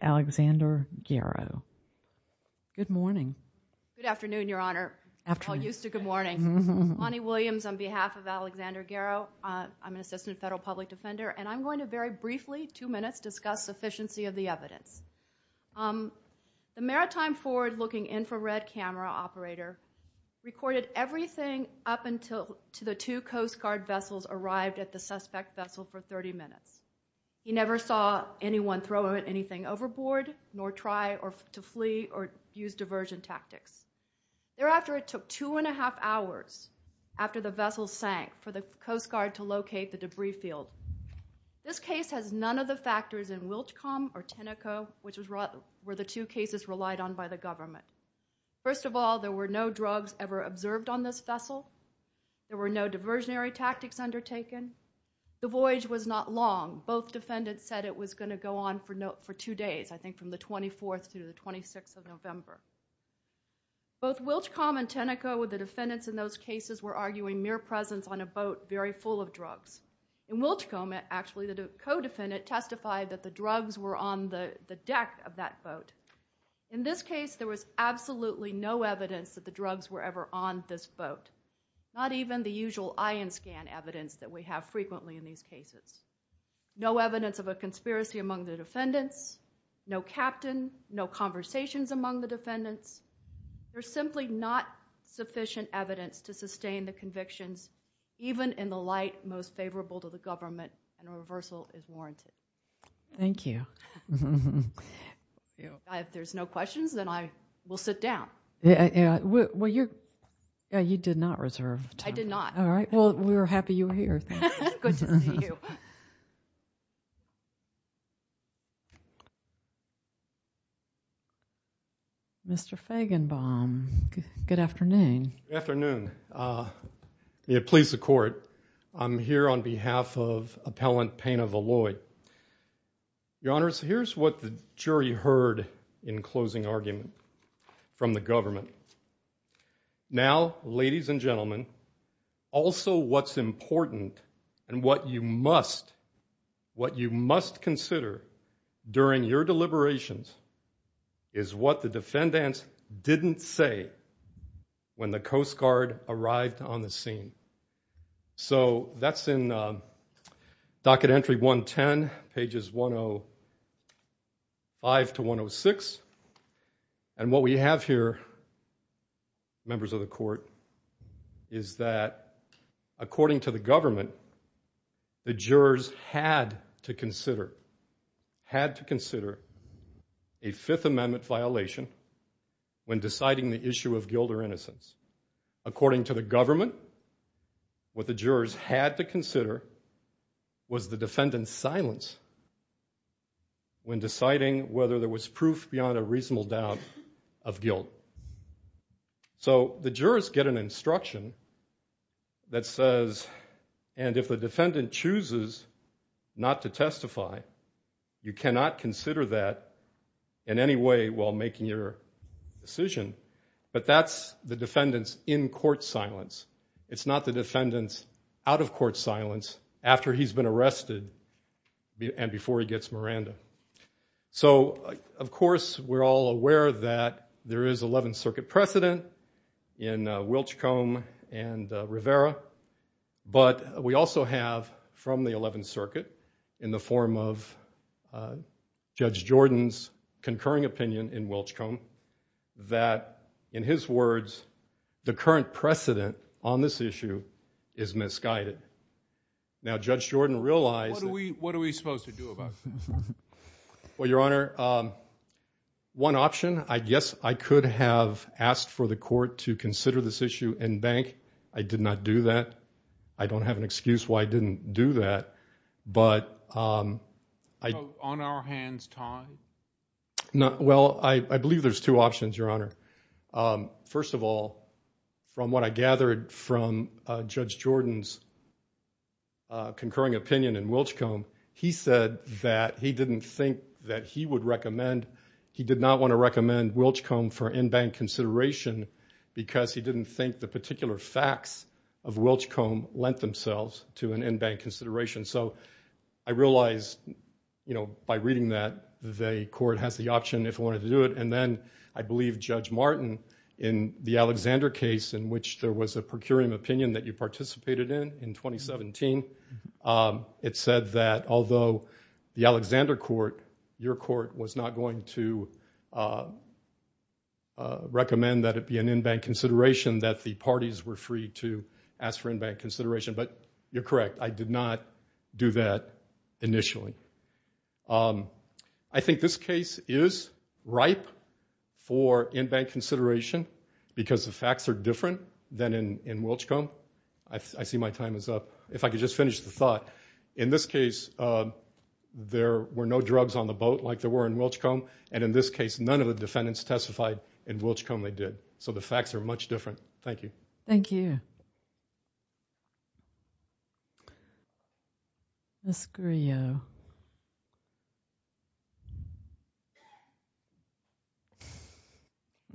Good morning. Good afternoon, Your Honor. I'm all used to good morning. Bonnie Williams on behalf of Alexander Guerro. I'm an assistant federal public defender and I'm going to very briefly, two minutes, discuss sufficiency of the evidence. The maritime forward looking infrared camera operator recorded everything up until the two Coast Guard vessels arrived at the suspect vessel for 30 minutes. He never saw anyone throw anything overboard, nor try to flee or use diversion tactics. Thereafter, it took two and a half hours after the vessel sank for the Coast Guard to locate the debris field. This case has none of the factors in Wilchcombe or Teneco, which were the two cases relied on by the government. First of all, there were no drugs ever observed on this vessel. There were no diversionary tactics undertaken. The voyage was not long. Both defendants said it was going to go on for two days, I think from the 24th through the 26th of November. Both Wilchcombe and Teneco with the defendants in those cases were arguing mere presence on a boat very full of drugs. In Wilchcombe, actually the co-defendant testified that the drugs were on the deck of that boat. In this case, there was absolutely no evidence that the drugs were ever on this boat. Not even the usual ion scan evidence that we have frequently in these cases. No evidence of a conspiracy among the defendants, no captain, no conversations among the defendants. There is simply not sufficient evidence to sustain the convictions even in the light most favorable to the government, and a reversal is warranted. Thank you. If there are no questions, then I will sit down. Well, you did not reserve time. I did not. Well, we were happy you were here. Good to see you. Mr. Fagenbaum, good afternoon. Good afternoon. Please, the court. I'm here on behalf of Appellant Pena Valloy. Your Honors, here's what the jury heard in closing argument from the government. Now, ladies and gentlemen, also what's important and what you must, what you must consider during your deliberations is what the defendants didn't say when the Coast Guard arrived on the scene. So, that's in Docket Entry 110, pages 105 to 106, and what we have here, members of the court, is that according to the government, the jurors had to consider, had to consider a Fifth Amendment violation when deciding the issue of guilt or innocence. According to the government, what the jurors had to consider was the defendants' silence when deciding whether there was proof beyond a reasonable doubt of guilt. So, the jurors get an instruction that says, and if the defendant chooses not to testify, you cannot consider that in any way while making your decision, but that's the defendants' in-court silence. It's not the defendants' out-of-court silence after he's been arrested and before he gets Miranda. So, of course, we're all aware that there is Eleventh Circuit precedent in Wilchcombe and Rivera, but we also have, from the Eleventh Circuit, in the form of Judge Jordan's concurring opinion in Wilchcombe, that, in his words, the current precedent on this issue is misguided. Now, Judge Jordan realized that... What are we supposed to do about this? Well, Your Honor, one option, I guess I could have asked for the court to consider this issue in bank. I did not do that. I don't have an excuse why I didn't do that, but... So, on our hands tied? Well, I believe there's two options, Your Honor. First of all, from what I gathered from Judge Jordan's concurring opinion in Wilchcombe, he said that he didn't think that he would recommend... He did not want to recommend Wilchcombe for in-bank consideration because he didn't think the particular facts of Wilchcombe lent themselves to an in-bank consideration. So, I realized, you know, by reading that, the court has the option, if it wanted to do it, and then, I believe Judge Martin, in the Alexander case, in which there was a procuring opinion that you participated in, in 2017, it said that, although the Alexander court, your court was not going to recommend that it be an in-bank consideration, that the parties were free to ask for in-bank consideration, but you're correct. I did not do that initially. I think this case is ripe for in-bank consideration because the facts are different than in Wilchcombe. I see my time is up. If I could just finish the thought. In this case, there were no drugs on the boat like there were in Wilchcombe, and in this case, none of the defendants testified in Wilchcombe, they did. So, the facts are much different. Thank you. Thank you. Ms. Grillo.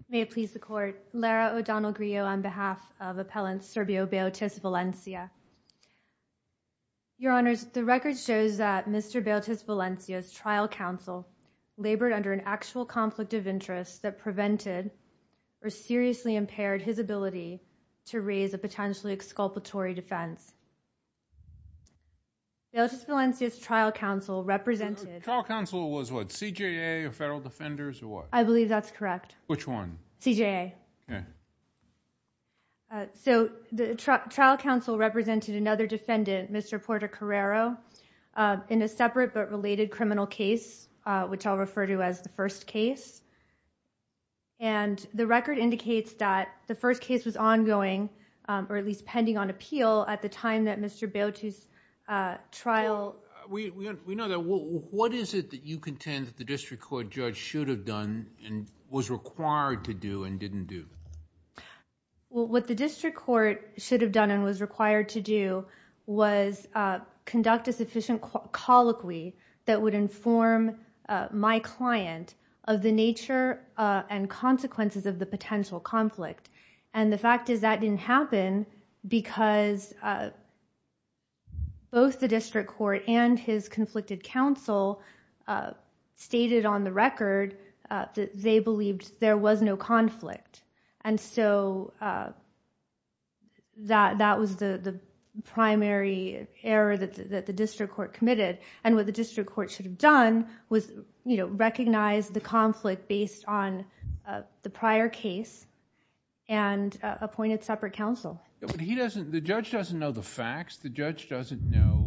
May it please the court. Lara O'Donnell Grillo on behalf of Appellant Serbio Bailtas Valencia. Your Honors, the record shows that Mr. Bailtas Valencia's trial counsel labored under an to raise a potentially exculpatory defense. Bailtas Valencia's trial counsel represented... Trial counsel was what? CJA or Federal Defenders or what? I believe that's correct. Which one? CJA. Okay. So, the trial counsel represented another defendant, Mr. Porter Carrero, in a separate but related criminal case, which I'll refer to as the first case. The record indicates that the first case was ongoing or at least pending on appeal at the time that Mr. Bailtas's trial... We know that. What is it that you contend that the district court judge should have done and was required to do and didn't do? What the district court should have done and was required to do was conduct a sufficient colloquy that would inform my client of the nature and consequences of the potential conflict. And, the fact is that didn't happen because both the district court and his conflicted counsel stated on the record that they believed there was no conflict. And so, that was the case that the district court committed. And what the district court should have done was recognize the conflict based on the prior case and appointed separate counsel. But he doesn't... the judge doesn't know the facts. The judge doesn't know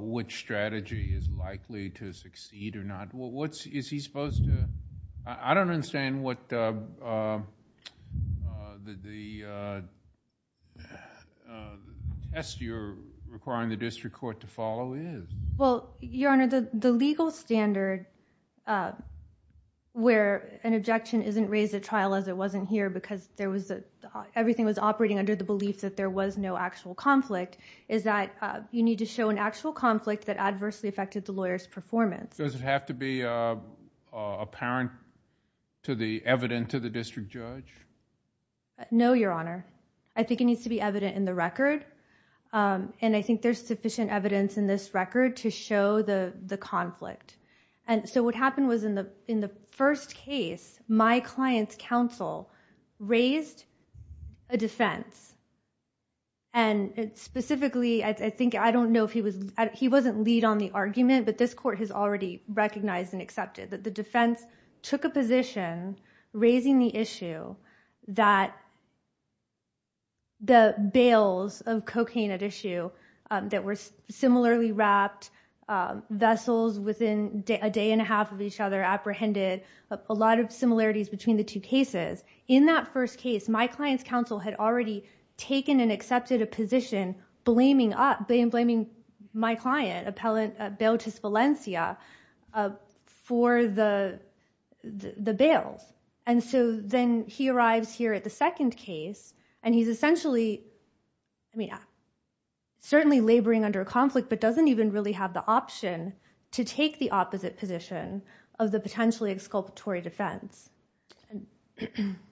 which strategy is likely to succeed or not. What's... is he supposed to... I don't understand what the test you're requiring the district court to follow is. Well, Your Honor, the legal standard where an objection isn't raised at trial as it wasn't here because everything was operating under the belief that there was no actual conflict is that you need to show an actual conflict that adversely affected the lawyer's performance. Does it have to be apparent to the... evident to the district judge? No, Your Honor. I think it needs to be evident in the record. And I think there's sufficient evidence in this record to show the conflict. And so, what happened was in the first case, my client's counsel raised a defense. And specifically, I think, I don't know if he was... he wasn't lead on the argument, but this court has already recognized and accepted that the defense took a position raising the issue that the bails of cocaine at issue that were similarly wrapped, vessels within a day and a half of each other apprehended, a lot of similarities between the two cases. In that first case, my client's counsel had already taken and accepted a position blaming my client, Bailtis Valencia, for the bails. And so, then he arrives here at the second case, and he's essentially... I mean, certainly laboring under conflict, but doesn't even really have the option to take the opposite position of the potentially exculpatory defense.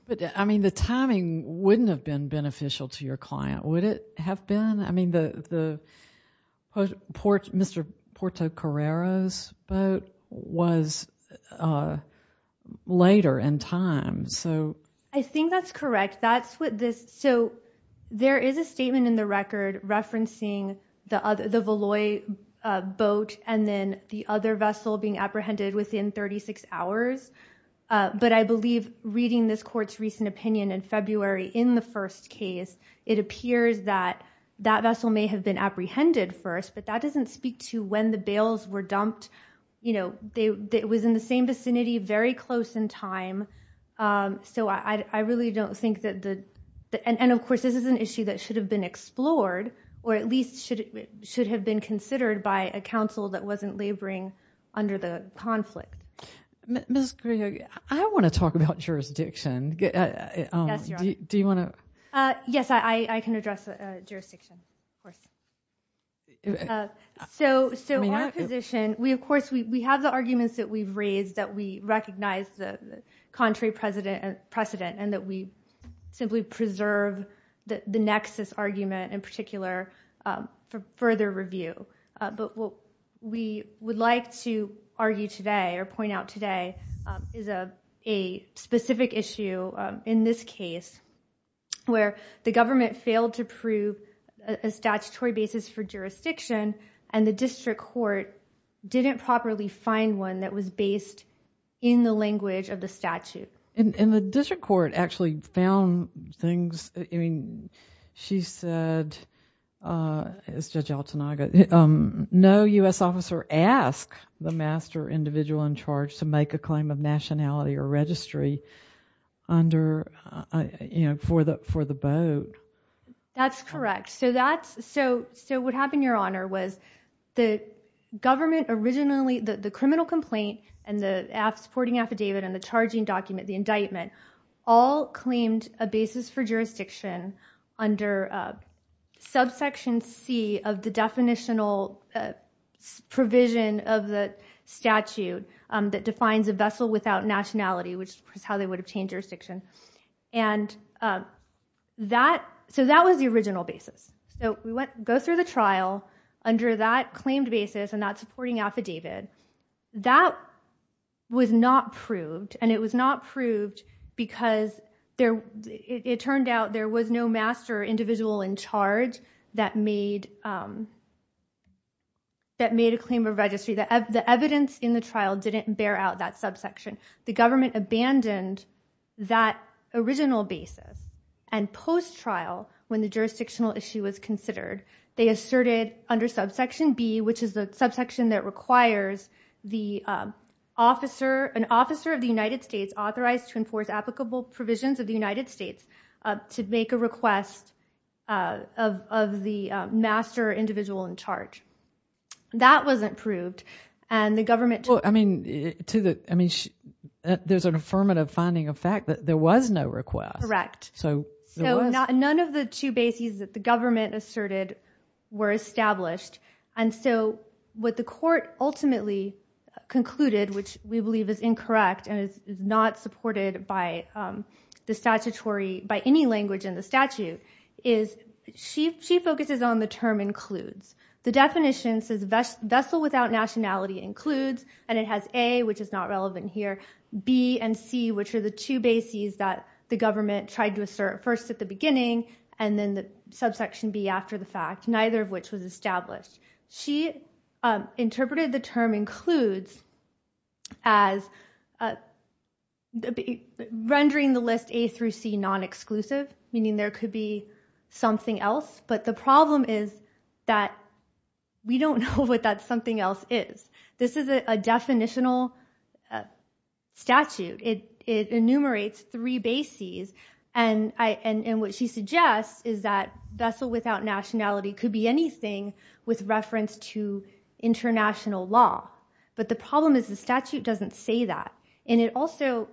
But, I mean, the timing wouldn't have been beneficial to your client, would it have been? I mean, Mr. Portocarrero's boat was later in time, so... I think that's correct. That's what this... So, there is a statement in the record referencing the Valois boat and then the other vessel being apprehended within 36 hours. But, I believe reading this court's recent opinion in February in the first case, it appears that that vessel may have been apprehended first, but that doesn't speak to when the bails were dumped. You know, it was in the same vicinity, very close in time. So, I really don't think that the... And, of course, this is an issue that should have been explored, or at least should have been considered by a counsel that wasn't laboring under the conflict. Ms. Carrillo, I want to talk about jurisdiction. Yes, Your Honor. Do you want to... Yes, I can address jurisdiction, of course. So, our position... We, of course, we have the arguments that we've raised that we recognize the contrary precedent and that we simply preserve the nexus argument in particular for further review. But, what we would like to argue today, or point out today, is a specific issue in this case where the government failed to prove a statutory basis for jurisdiction and the district court didn't properly find one that was based in the language of the statute. And, the district court actually found things... I mean, she said, as Judge Altanaga, no U.S. officer asked the master individual in charge to make a claim of nationality or registry under, you know, for the boat. That's correct. So, that's... So, what happened, Your Honor, was the government originally... the criminal complaint and the aff... supporting affidavit and the charging document, the indictment, all claimed a basis for jurisdiction under subsection C of the definitional provision of the statute that defines a vessel without nationality, which is how they would obtain jurisdiction. And, that... So, that was the original basis. So, we went... go through the trial under that claimed basis and that supporting affidavit. That was not proved, and it was not proved because there... it turned out there was no master individual in charge that made... that made a claim of registry. The evidence in the trial didn't bear out that subsection. The government abandoned that original basis. And, post-trial, when the jurisdictional issue was considered, they asserted under subsection B, which is the subsection that requires the officer... an officer of the United States authorized to enforce applicable provisions of the United States to make a request of the master individual in charge. That wasn't proved, and the government... Well, I mean, to the... I mean, there's an affirmative finding of fact that there was no request. Correct. So, there was... So, none of the two bases that the government asserted were established. And so, what the court ultimately concluded, which we believe is incorrect and is not supported by the statutory... The definition says vessel without nationality includes, and it has A, which is not relevant here, B and C, which are the two bases that the government tried to assert first at the beginning, and then the subsection B after the fact, neither of which was established. She interpreted the term includes as rendering the list A through C non-exclusive, meaning there could be something else. But the problem is that we don't know what that something else is. This is a definitional statute. It enumerates three bases, and what she suggests is that vessel without nationality could be anything with reference to international law. But the problem is the statute doesn't say that. And it also...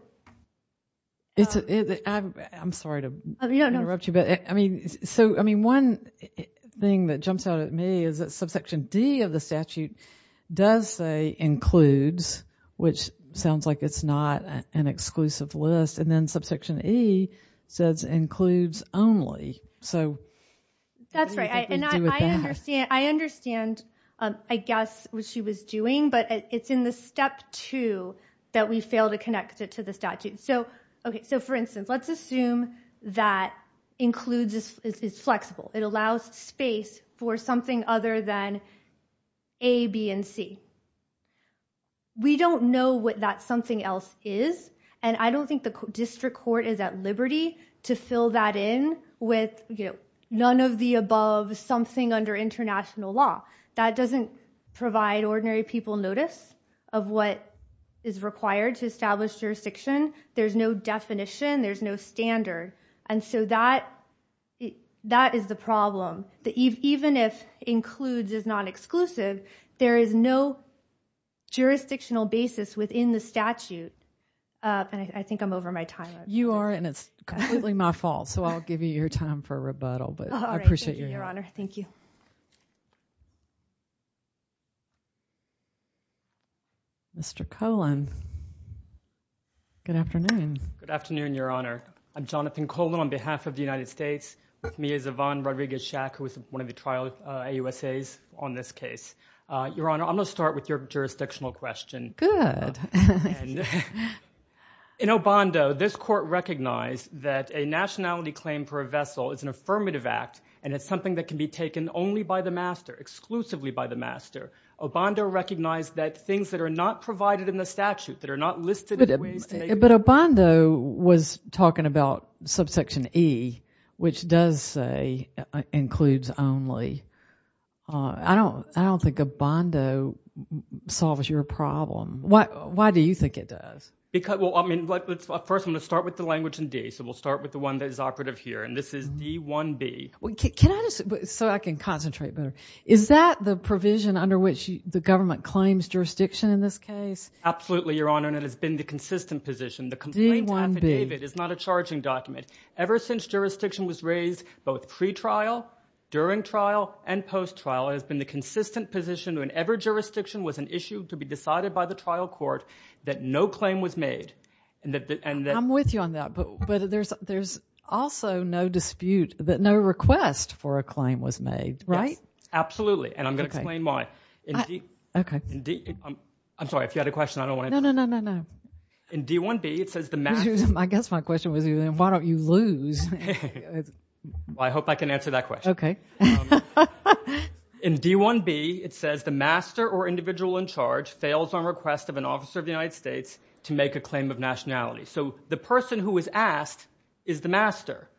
I'm sorry to interrupt you, but one thing that jumps out at me is that subsection D of the statute does say includes, which sounds like it's not an exclusive list, and then subsection E says includes only. That's right, and I understand, I guess, what she was doing, but it's in the step two that we fail to connect it to the statute. For instance, let's assume that includes is flexible. It allows space for something other than A, B, and C. We don't know what that something else is, and I don't think the district court is at liberty to fill that in with none of the above, something under international law. That doesn't provide ordinary people notice of what is required to establish jurisdiction. There's no definition. There's no standard, and so that is the problem. Even if includes is not exclusive, there is no jurisdictional basis within the statute, and I think I'm over my time. You are, and it's completely my fault, so I'll give you your time for rebuttal, but I appreciate your help. Thank you, Your Honor. Thank you. Mr. Colon, good afternoon. Good afternoon, Your Honor. I'm Jonathan Colon on behalf of the United States. With me is Yvonne Rodriguez-Shack, who is one of the trial AUSAs on this case. Your Honor, I'm going to start with your jurisdictional question. Good. In Obando, this court recognized that a nationality claim for a vessel is an affirmative act, and it's something that can be taken only by the master, exclusively by the master. Obando recognized that things that are not provided in the statute, that are not listed in ways to make them. But Obando was talking about subsection E, which does say includes only. I don't think Obando solves your problem. Why do you think it does? First, I'm going to start with the language in D. So we'll start with the one that is operative here, and this is D-1B. So I can concentrate better. Is that the provision under which the government claims jurisdiction in this case? Absolutely, Your Honor, and it has been the consistent position. The complaint affidavit is not a charging document. Ever since jurisdiction was raised, both pre-trial, during trial, and post-trial, it has been the consistent position whenever jurisdiction was an issue to be decided by the trial court that no claim was made. I'm with you on that, but there's also no dispute that no request for a claim was made, right? Yes, absolutely, and I'm going to explain why. Okay. I'm sorry, if you had a question, I don't want to interrupt you. No, no, no, no, no. In D-1B, it says the master. I guess my question was, why don't you lose? I hope I can answer that question. Okay. In D-1B, it says the master or individual in charge fails on request of an officer of the United States to make a claim of nationality. So the person who was asked is the master.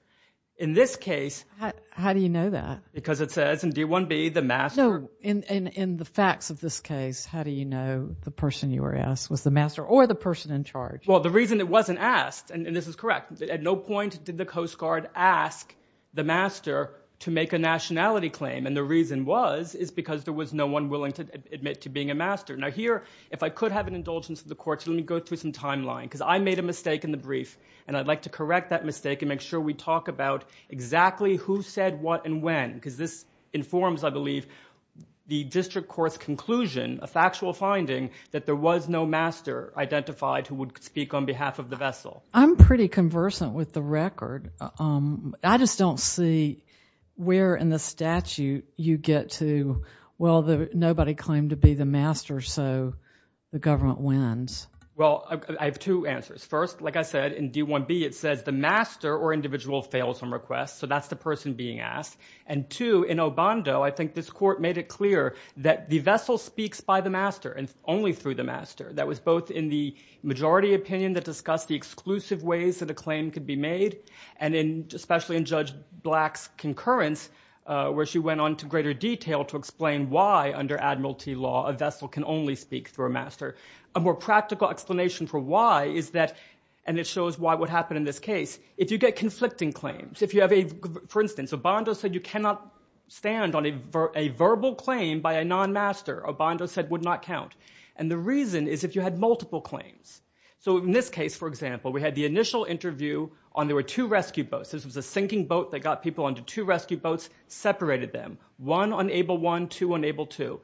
In this case— How do you know that? Because it says in D-1B, the master— No, in the facts of this case, how do you know the person you were asked was the master or the person in charge? Well, the reason it wasn't asked, and this is correct, at no point did the Coast Guard ask the master to make a nationality claim, and the reason was is because there was no one willing to admit to being a master. Now, here, if I could have an indulgence to the courts, let me go through some timeline, because I made a mistake in the brief, and I'd like to correct that mistake and make sure we talk about exactly who said what and when, because this informs, I believe, the district court's conclusion, a factual finding, that there was no master identified who would speak on behalf of the vessel. I'm pretty conversant with the record. I just don't see where in the statute you get to, well, nobody claimed to be the master, so the government wins. Well, I have two answers. First, like I said, in D-1B, it says the master or individual fails on request, so that's the person being asked. And two, in Obando, I think this court made it clear that the vessel speaks by the master and only through the master. That was both in the majority opinion that discussed the exclusive ways that a claim could be made and especially in Judge Black's concurrence, where she went on to greater detail to explain why, under admiralty law, a vessel can only speak through a master. A more practical explanation for why is that, and it shows why what happened in this case, if you get conflicting claims, if you have a, for instance, Obando said you cannot stand on a verbal claim by a non-master. Obando said would not count. And the reason is if you had multiple claims. So in this case, for example, we had the initial interview on there were two rescue boats. This was a sinking boat that got people onto two rescue boats, separated them. One on Able 1, two on Able 2.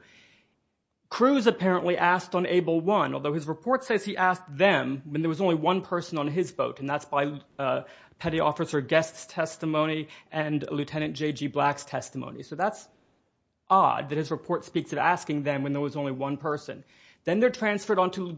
Cruz apparently asked on Able 1, although his report says he asked them when there was only one person on his boat, and that's by petty officer Guest's testimony and Lieutenant J.G. Black's testimony. So that's odd that his report speaks of asking them when there was only one person. Then they're transferred onto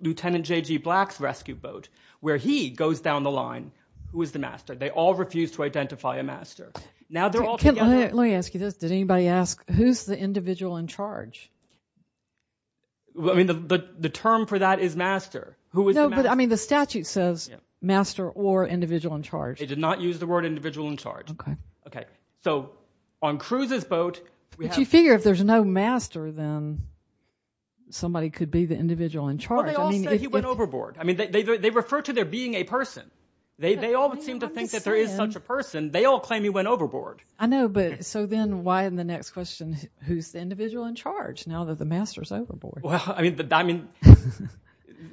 Lieutenant J.G. Black's rescue boat, where he goes down the line. Who is the master? They all refuse to identify a master. Now they're all together. Let me ask you this. Did anybody ask who's the individual in charge? I mean the term for that is master. No, but I mean the statute says master or individual in charge. They did not use the word individual in charge. Okay. Okay. So on Cruz's boat— But you figure if there's no master, then somebody could be the individual in charge. Well, they all say he went overboard. I mean they refer to there being a person. They all seem to think that there is such a person. They all claim he went overboard. I know, but so then why in the next question, who's the individual in charge now that the master's overboard? Well, I mean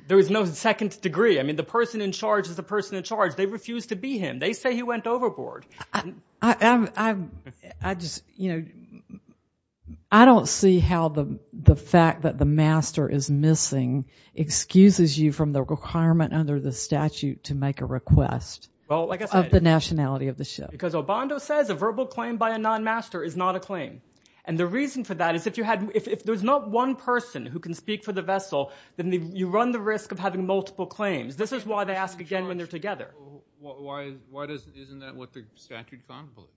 there is no second degree. I mean the person in charge is the person in charge. They refuse to be him. They say he went overboard. I just, you know, I don't see how the fact that the master is missing excuses you from the requirement under the statute to make a request of the nationality of the ship. Because Obando says a verbal claim by a non-master is not a claim. And the reason for that is if there's not one person who can speak for the vessel, then you run the risk of having multiple claims. This is why they ask again when they're together. Why isn't that what the statute contemplates?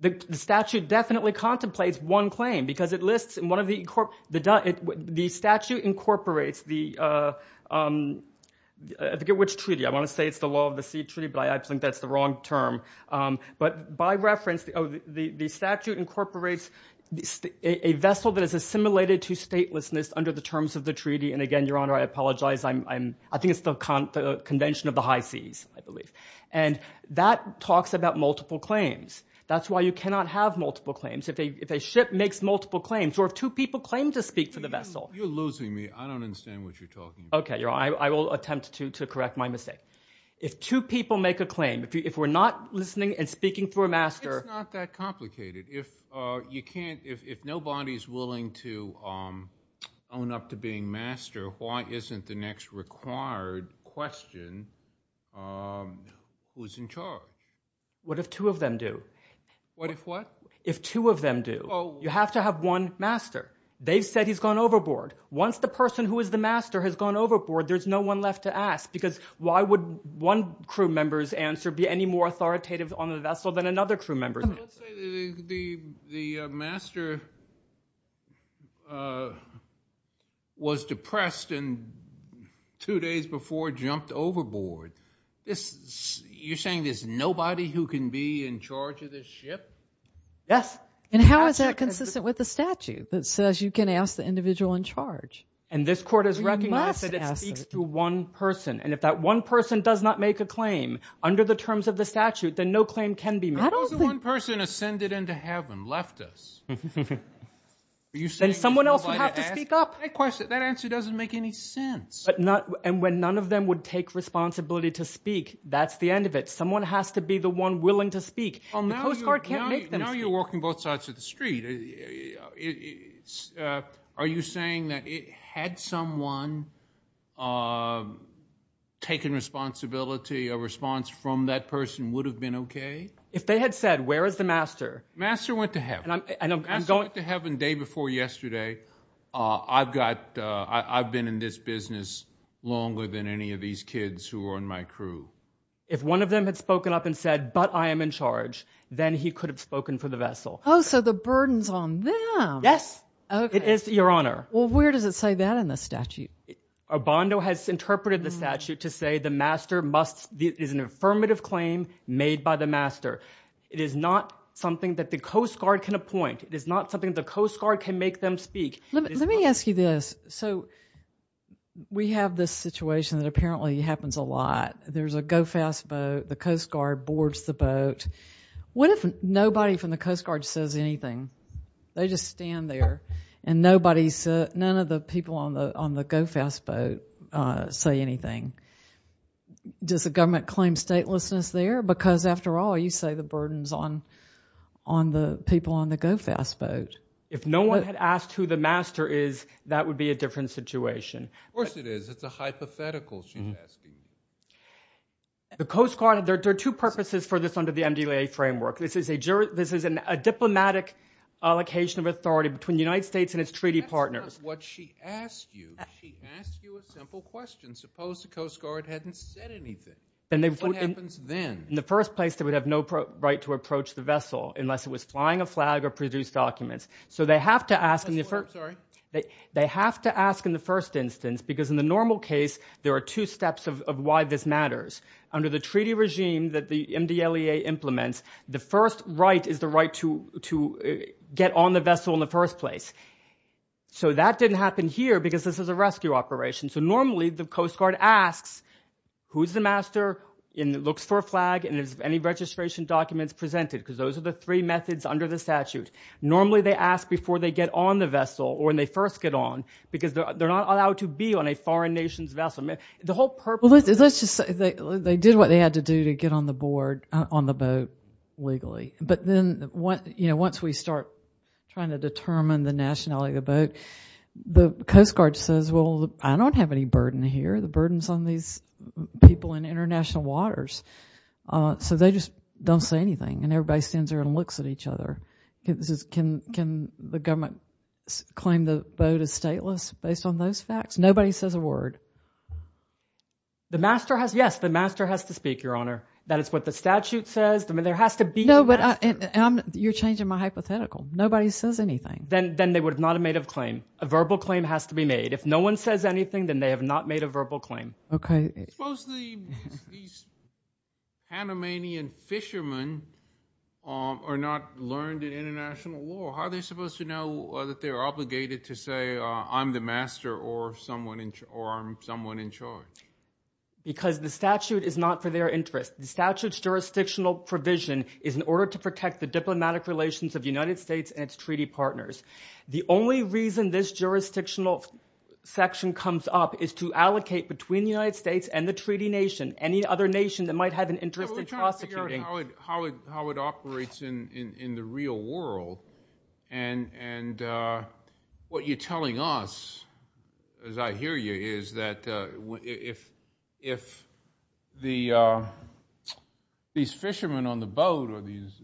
The statute definitely contemplates one claim because it lists in one of the – the statute incorporates the – I forget which treaty. I want to say it's the Law of the Sea Treaty, but I think that's the wrong term. But by reference, the statute incorporates a vessel that is assimilated to statelessness under the terms of the treaty. And again, Your Honor, I apologize. I think it's the Convention of the High Seas, I believe. And that talks about multiple claims. That's why you cannot have multiple claims. If a ship makes multiple claims or if two people claim to speak for the vessel. You're losing me. I don't understand what you're talking about. Okay, Your Honor. I will attempt to correct my mistake. If two people make a claim, if we're not listening and speaking for a master. It's not that complicated. If you can't – if nobody's willing to own up to being master, why isn't the next required question who's in charge? What if two of them do? What if what? If two of them do. You have to have one master. They've said he's gone overboard. Once the person who is the master has gone overboard, there's no one left to ask because why would one crew member's answer be any more authoritative on the vessel than another crew member's answer? Let's say the master was depressed and two days before jumped overboard. You're saying there's nobody who can be in charge of this ship? Yes. And how is that consistent with the statute that says you can ask the individual in charge? And this court has recognized that it speaks to one person. And if that one person does not make a claim under the terms of the statute, then no claim can be made. What if the one person ascended into heaven, left us? Then someone else would have to speak up. That answer doesn't make any sense. And when none of them would take responsibility to speak, that's the end of it. Someone has to be the one willing to speak. The Coast Guard can't make them speak. Now you're walking both sides of the street. Are you saying that had someone taken responsibility, a response from that person would have been okay? If they had said, where is the master? Master went to heaven. Master went to heaven the day before yesterday. I've been in this business longer than any of these kids who are on my crew. If one of them had spoken up and said, but I am in charge, then he could have spoken for the vessel. Oh, so the burden's on them. Yes. It is, Your Honor. Well, where does it say that in the statute? Obando has interpreted the statute to say the master is an affirmative claim made by the master. It is not something that the Coast Guard can appoint. It is not something the Coast Guard can make them speak. Let me ask you this. So we have this situation that apparently happens a lot. There's a go-fast boat. The Coast Guard boards the boat. What if nobody from the Coast Guard says anything? They just stand there. And none of the people on the go-fast boat say anything. Does the government claim statelessness there? Because, after all, you say the burden's on the people on the go-fast boat. If no one had asked who the master is, that would be a different situation. Of course it is. It's a hypothetical, she's asking. The Coast Guard, there are two purposes for this under the MDLA framework. This is a diplomatic allocation of authority between the United States and its treaty partners. That's not what she asked you. She asked you a simple question. Suppose the Coast Guard hadn't said anything. What happens then? In the first place, they would have no right to approach the vessel unless it was flying a flag or produced documents. So they have to ask in the first instance because, in the normal case, there are two steps of why this matters. Under the treaty regime that the MDLA implements, the first right is the right to get on the vessel in the first place. So that didn't happen here because this is a rescue operation. So normally the Coast Guard asks who's the master and looks for a flag and any registration documents presented because those are the three methods under the statute. Normally they ask before they get on the vessel or when they first get on because they're not allowed to be on a foreign nation's vessel. Let's just say they did what they had to do to get on the boat legally. But then once we start trying to determine the nationality of the boat, the Coast Guard says, well, I don't have any burden here. The burden's on these people in international waters. So they just don't say anything and everybody stands there and looks at each other. Can the government claim the boat is stateless based on those facts? Nobody says a word. Yes, the master has to speak, Your Honor. That is what the statute says. You're changing my hypothetical. Nobody says anything. Then they would not have made a claim. A verbal claim has to be made. If no one says anything, then they have not made a verbal claim. Suppose the Panamanian fishermen are not learned in international law. How are they supposed to know that they're obligated to say I'm the master or I'm someone in charge? Because the statute is not for their interest. The statute's jurisdictional provision is in order to protect the diplomatic relations of the United States and its treaty partners. The only reason this jurisdictional section comes up is to allocate between the United States and the treaty nation, any other nation that might have an interest in prosecuting. How it operates in the real world and what you're telling us, as I hear you, is that if these fishermen on the boat or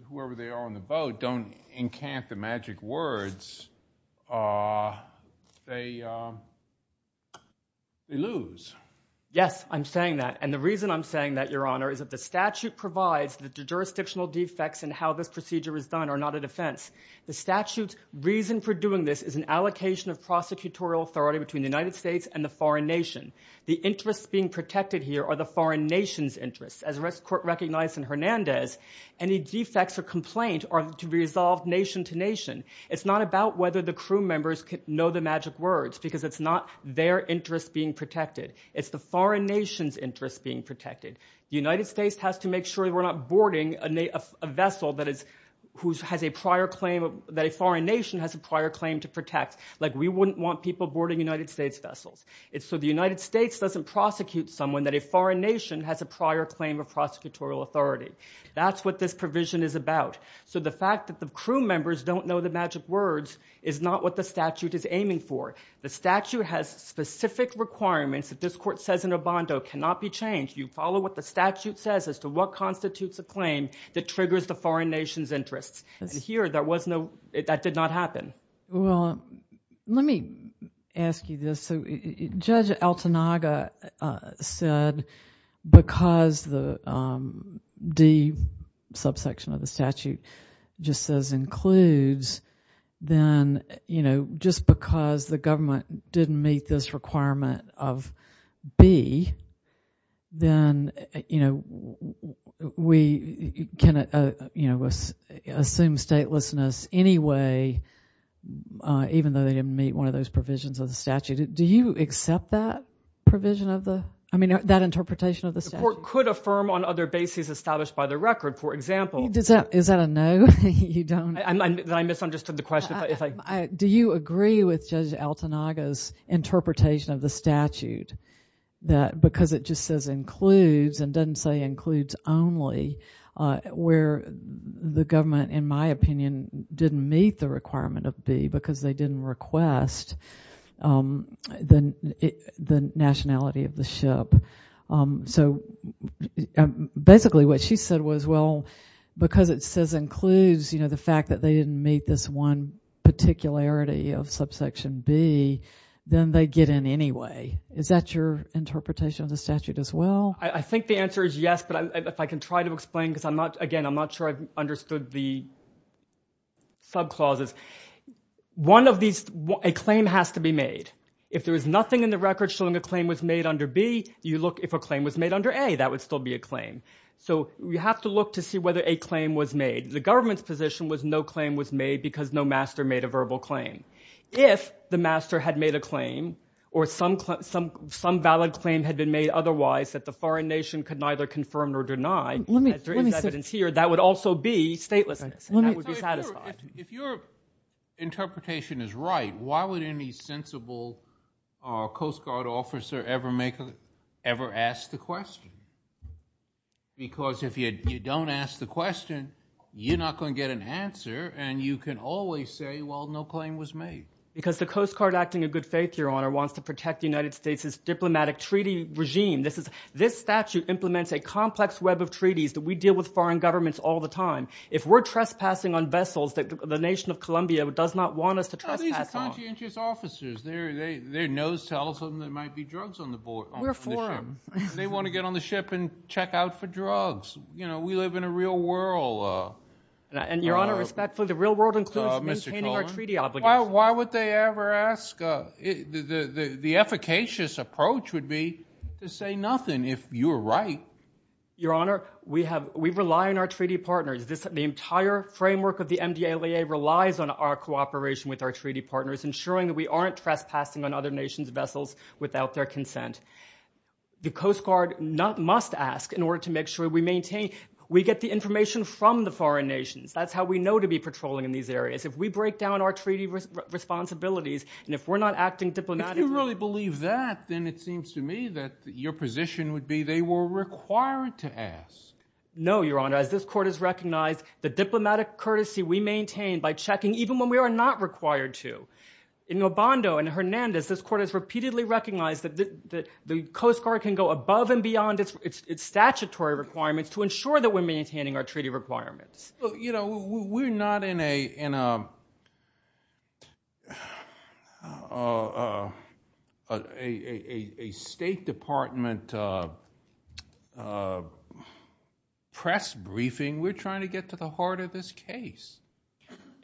whoever they are on the boat don't encant the magic words, they lose. Yes, I'm saying that. The reason I'm saying that, Your Honor, is that the statute provides that the jurisdictional defects in how this procedure is done are not a defense. The statute's reason for doing this is an allocation of prosecutorial authority between the United States and the foreign nation. The interests being protected here are the foreign nation's interests. As the court recognized in Hernandez, any defects or complaint are to be resolved nation to nation. It's not about whether the crew members know the magic words because it's not their interests being protected. It's the foreign nation's interests being protected. The United States has to make sure we're not boarding a vessel that a foreign nation has a prior claim to protect. We wouldn't want people boarding United States vessels. So the United States doesn't prosecute someone that a foreign nation has a prior claim of prosecutorial authority. That's what this provision is about. So the fact that the crew members don't know the magic words is not what the statute is aiming for. The statute has specific requirements that this court says in Obando cannot be changed. You follow what the statute says as to what constitutes a claim that triggers the foreign nation's interests. And here, that did not happen. Well, let me ask you this. So Judge Altanaga said because the D subsection of the statute just says includes, then, you know, just because the government didn't meet this requirement of B, then, you know, we can assume statelessness anyway even though they didn't meet one of those provisions of the statute. Do you accept that provision of the – I mean that interpretation of the statute? The court could affirm on other bases established by the record. For example. Is that a no? Then I misunderstood the question. Do you agree with Judge Altanaga's interpretation of the statute because it just says includes and doesn't say includes only where the government, in my opinion, didn't meet the requirement of B because they didn't request the nationality of the ship? So basically what she said was, well, because it says includes, you know, the fact that they didn't meet this one particularity of subsection B, then they get in anyway. Is that your interpretation of the statute as well? I think the answer is yes, but if I can try to explain because I'm not – again, I'm not sure I've understood the subclauses. One of these – a claim has to be made. If there is nothing in the record showing a claim was made under B, you look if a claim was made under A, that would still be a claim. So you have to look to see whether a claim was made. The government's position was no claim was made because no master made a verbal claim. If the master had made a claim or some valid claim had been made otherwise that the foreign nation could neither confirm nor deny, as there is evidence here, that would also be statelessness and that would be satisfied. If your interpretation is right, why would any sensible Coast Guard officer ever ask the question? Because if you don't ask the question, you're not going to get an answer, and you can always say, well, no claim was made. Because the Coast Guard, acting in good faith, Your Honor, wants to protect the United States' diplomatic treaty regime. This statute implements a complex web of treaties that we deal with foreign governments all the time. If we're trespassing on vessels that the nation of Colombia does not want us to trespass on. Well, these are conscientious officers. Their nose tells them there might be drugs on the ship. We're for them. They want to get on the ship and check out for drugs. You know, we live in a real world. And, Your Honor, respectfully, the real world includes maintaining our treaty obligations. Why would they ever ask? The efficacious approach would be to say nothing if you're right. Your Honor, we rely on our treaty partners. The entire framework of the MDALA relies on our cooperation with our treaty partners, ensuring that we aren't trespassing on other nations' vessels without their consent. The Coast Guard must ask in order to make sure we maintain, we get the information from the foreign nations. That's how we know to be patrolling in these areas. If we break down our treaty responsibilities, and if we're not acting diplomatically. If you really believe that, then it seems to me that your position would be they were required to ask. No, Your Honor, as this Court has recognized, the diplomatic courtesy we maintain by checking, even when we are not required to. In Obando and Hernandez, this Court has repeatedly recognized that the Coast Guard can go above and beyond its statutory requirements to ensure that we're maintaining our treaty requirements. We're not in a State Department press briefing. We're trying to get to the heart of this case.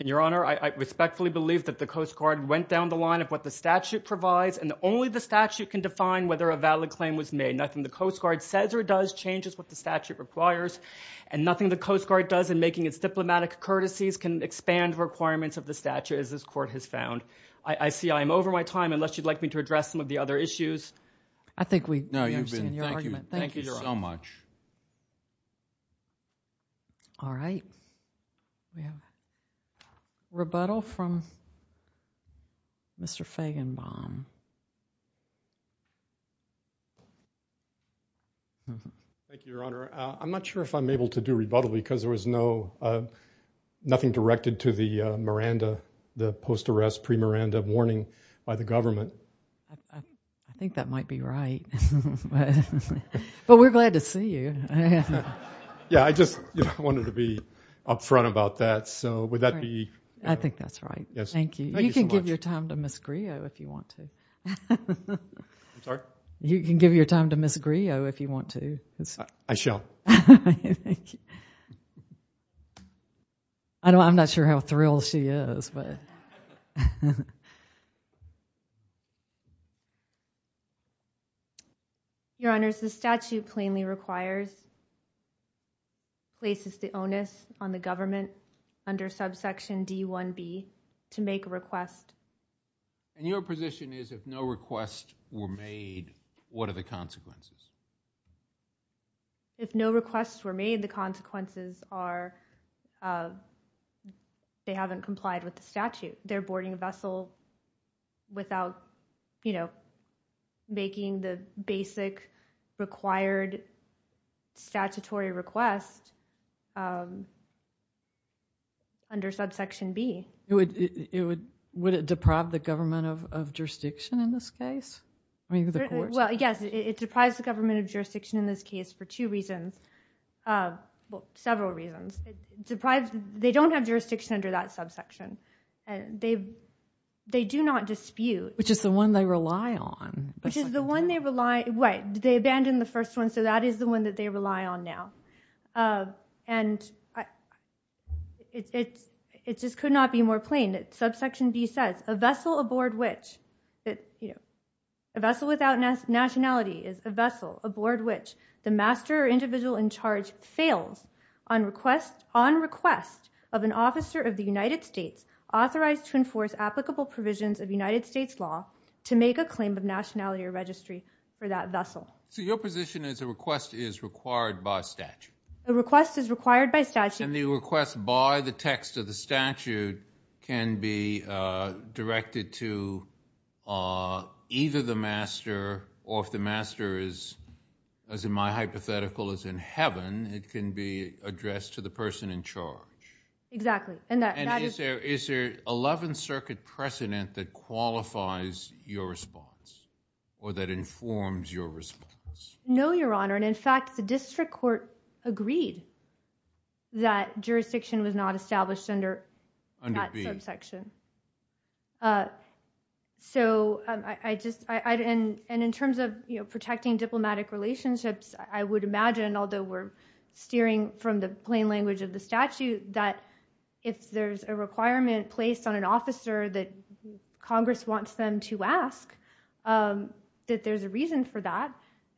Your Honor, I respectfully believe that the Coast Guard went down the line of what the statute provides, and only the statute can define whether a valid claim was made. Nothing the Coast Guard says or does changes what the statute requires, and nothing the Coast Guard does in making its diplomatic courtesies can expand requirements of the statute, as this Court has found. I see I am over my time, unless you'd like me to address some of the other issues. I think we understand your argument. Thank you so much. All right. Rebuttal from Mr. Feigenbaum. Thank you, Your Honor. I'm not sure if I'm able to do rebuttal because there was nothing directed to the Miranda, the post-arrest pre-Miranda warning by the government. I think that might be right. But we're glad to see you. Yeah, I just wanted to be up front about that. So would that be? I think that's right. Thank you. You can give your time to Ms. Griot if you want to. I'm sorry? You can give your time to Ms. Griot if you want to. I shall. Thank you. I'm not sure how thrilled she is. Your Honors, the statute plainly requires, places the onus on the government under subsection D-1B to make a request. And your position is if no requests were made, what are the consequences? If no requests were made, the consequences are they haven't complied with the statute. They're boarding a vessel without making the basic required statutory request under subsection B. Would it deprive the government of jurisdiction in this case? Well, yes. It deprives the government of jurisdiction in this case for two reasons. Well, several reasons. They don't have jurisdiction under that subsection. They do not dispute. Which is the one they rely on. Which is the one they rely on. They abandoned the first one, so that is the one that they rely on now. And it just could not be more plain that subsection B says, a vessel without nationality is a vessel aboard which the master or individual in charge fails on request of an officer of the United States authorized to enforce applicable provisions of United States law to make a claim of nationality or registry for that vessel. So your position is a request is required by statute. A request is required by statute. And the request by the text of the statute can be directed to either the master or if the master is, as in my hypothetical, is in heaven, it can be addressed to the person in charge. Exactly. And is there an 11th Circuit precedent that qualifies your response or that informs your response? No, Your Honor. And, in fact, the district court agreed that jurisdiction was not established under that subsection. So I just, and in terms of protecting diplomatic relationships, I would imagine, although we're steering from the plain language of the statute, that if there's a requirement placed on an officer that Congress wants them to ask, that there's a reason for that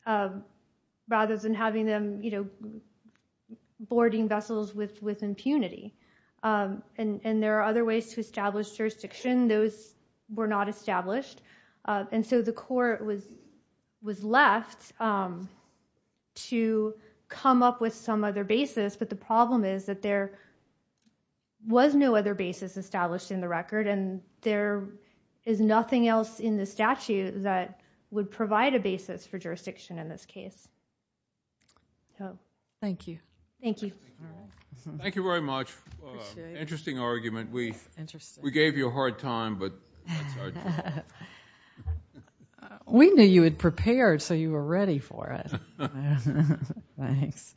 rather than having them, you know, boarding vessels with impunity. And there are other ways to establish jurisdiction. Those were not established. And so the court was left to come up with some other basis, but the problem is that there was no other basis established in the record, and there is nothing else in the statute that would provide a basis for jurisdiction in this case. Thank you. Thank you. Thank you very much. Appreciate it. Interesting argument. Interesting. We gave you a hard time, but that's our job. We knew you had prepared, so you were ready for it. Thanks.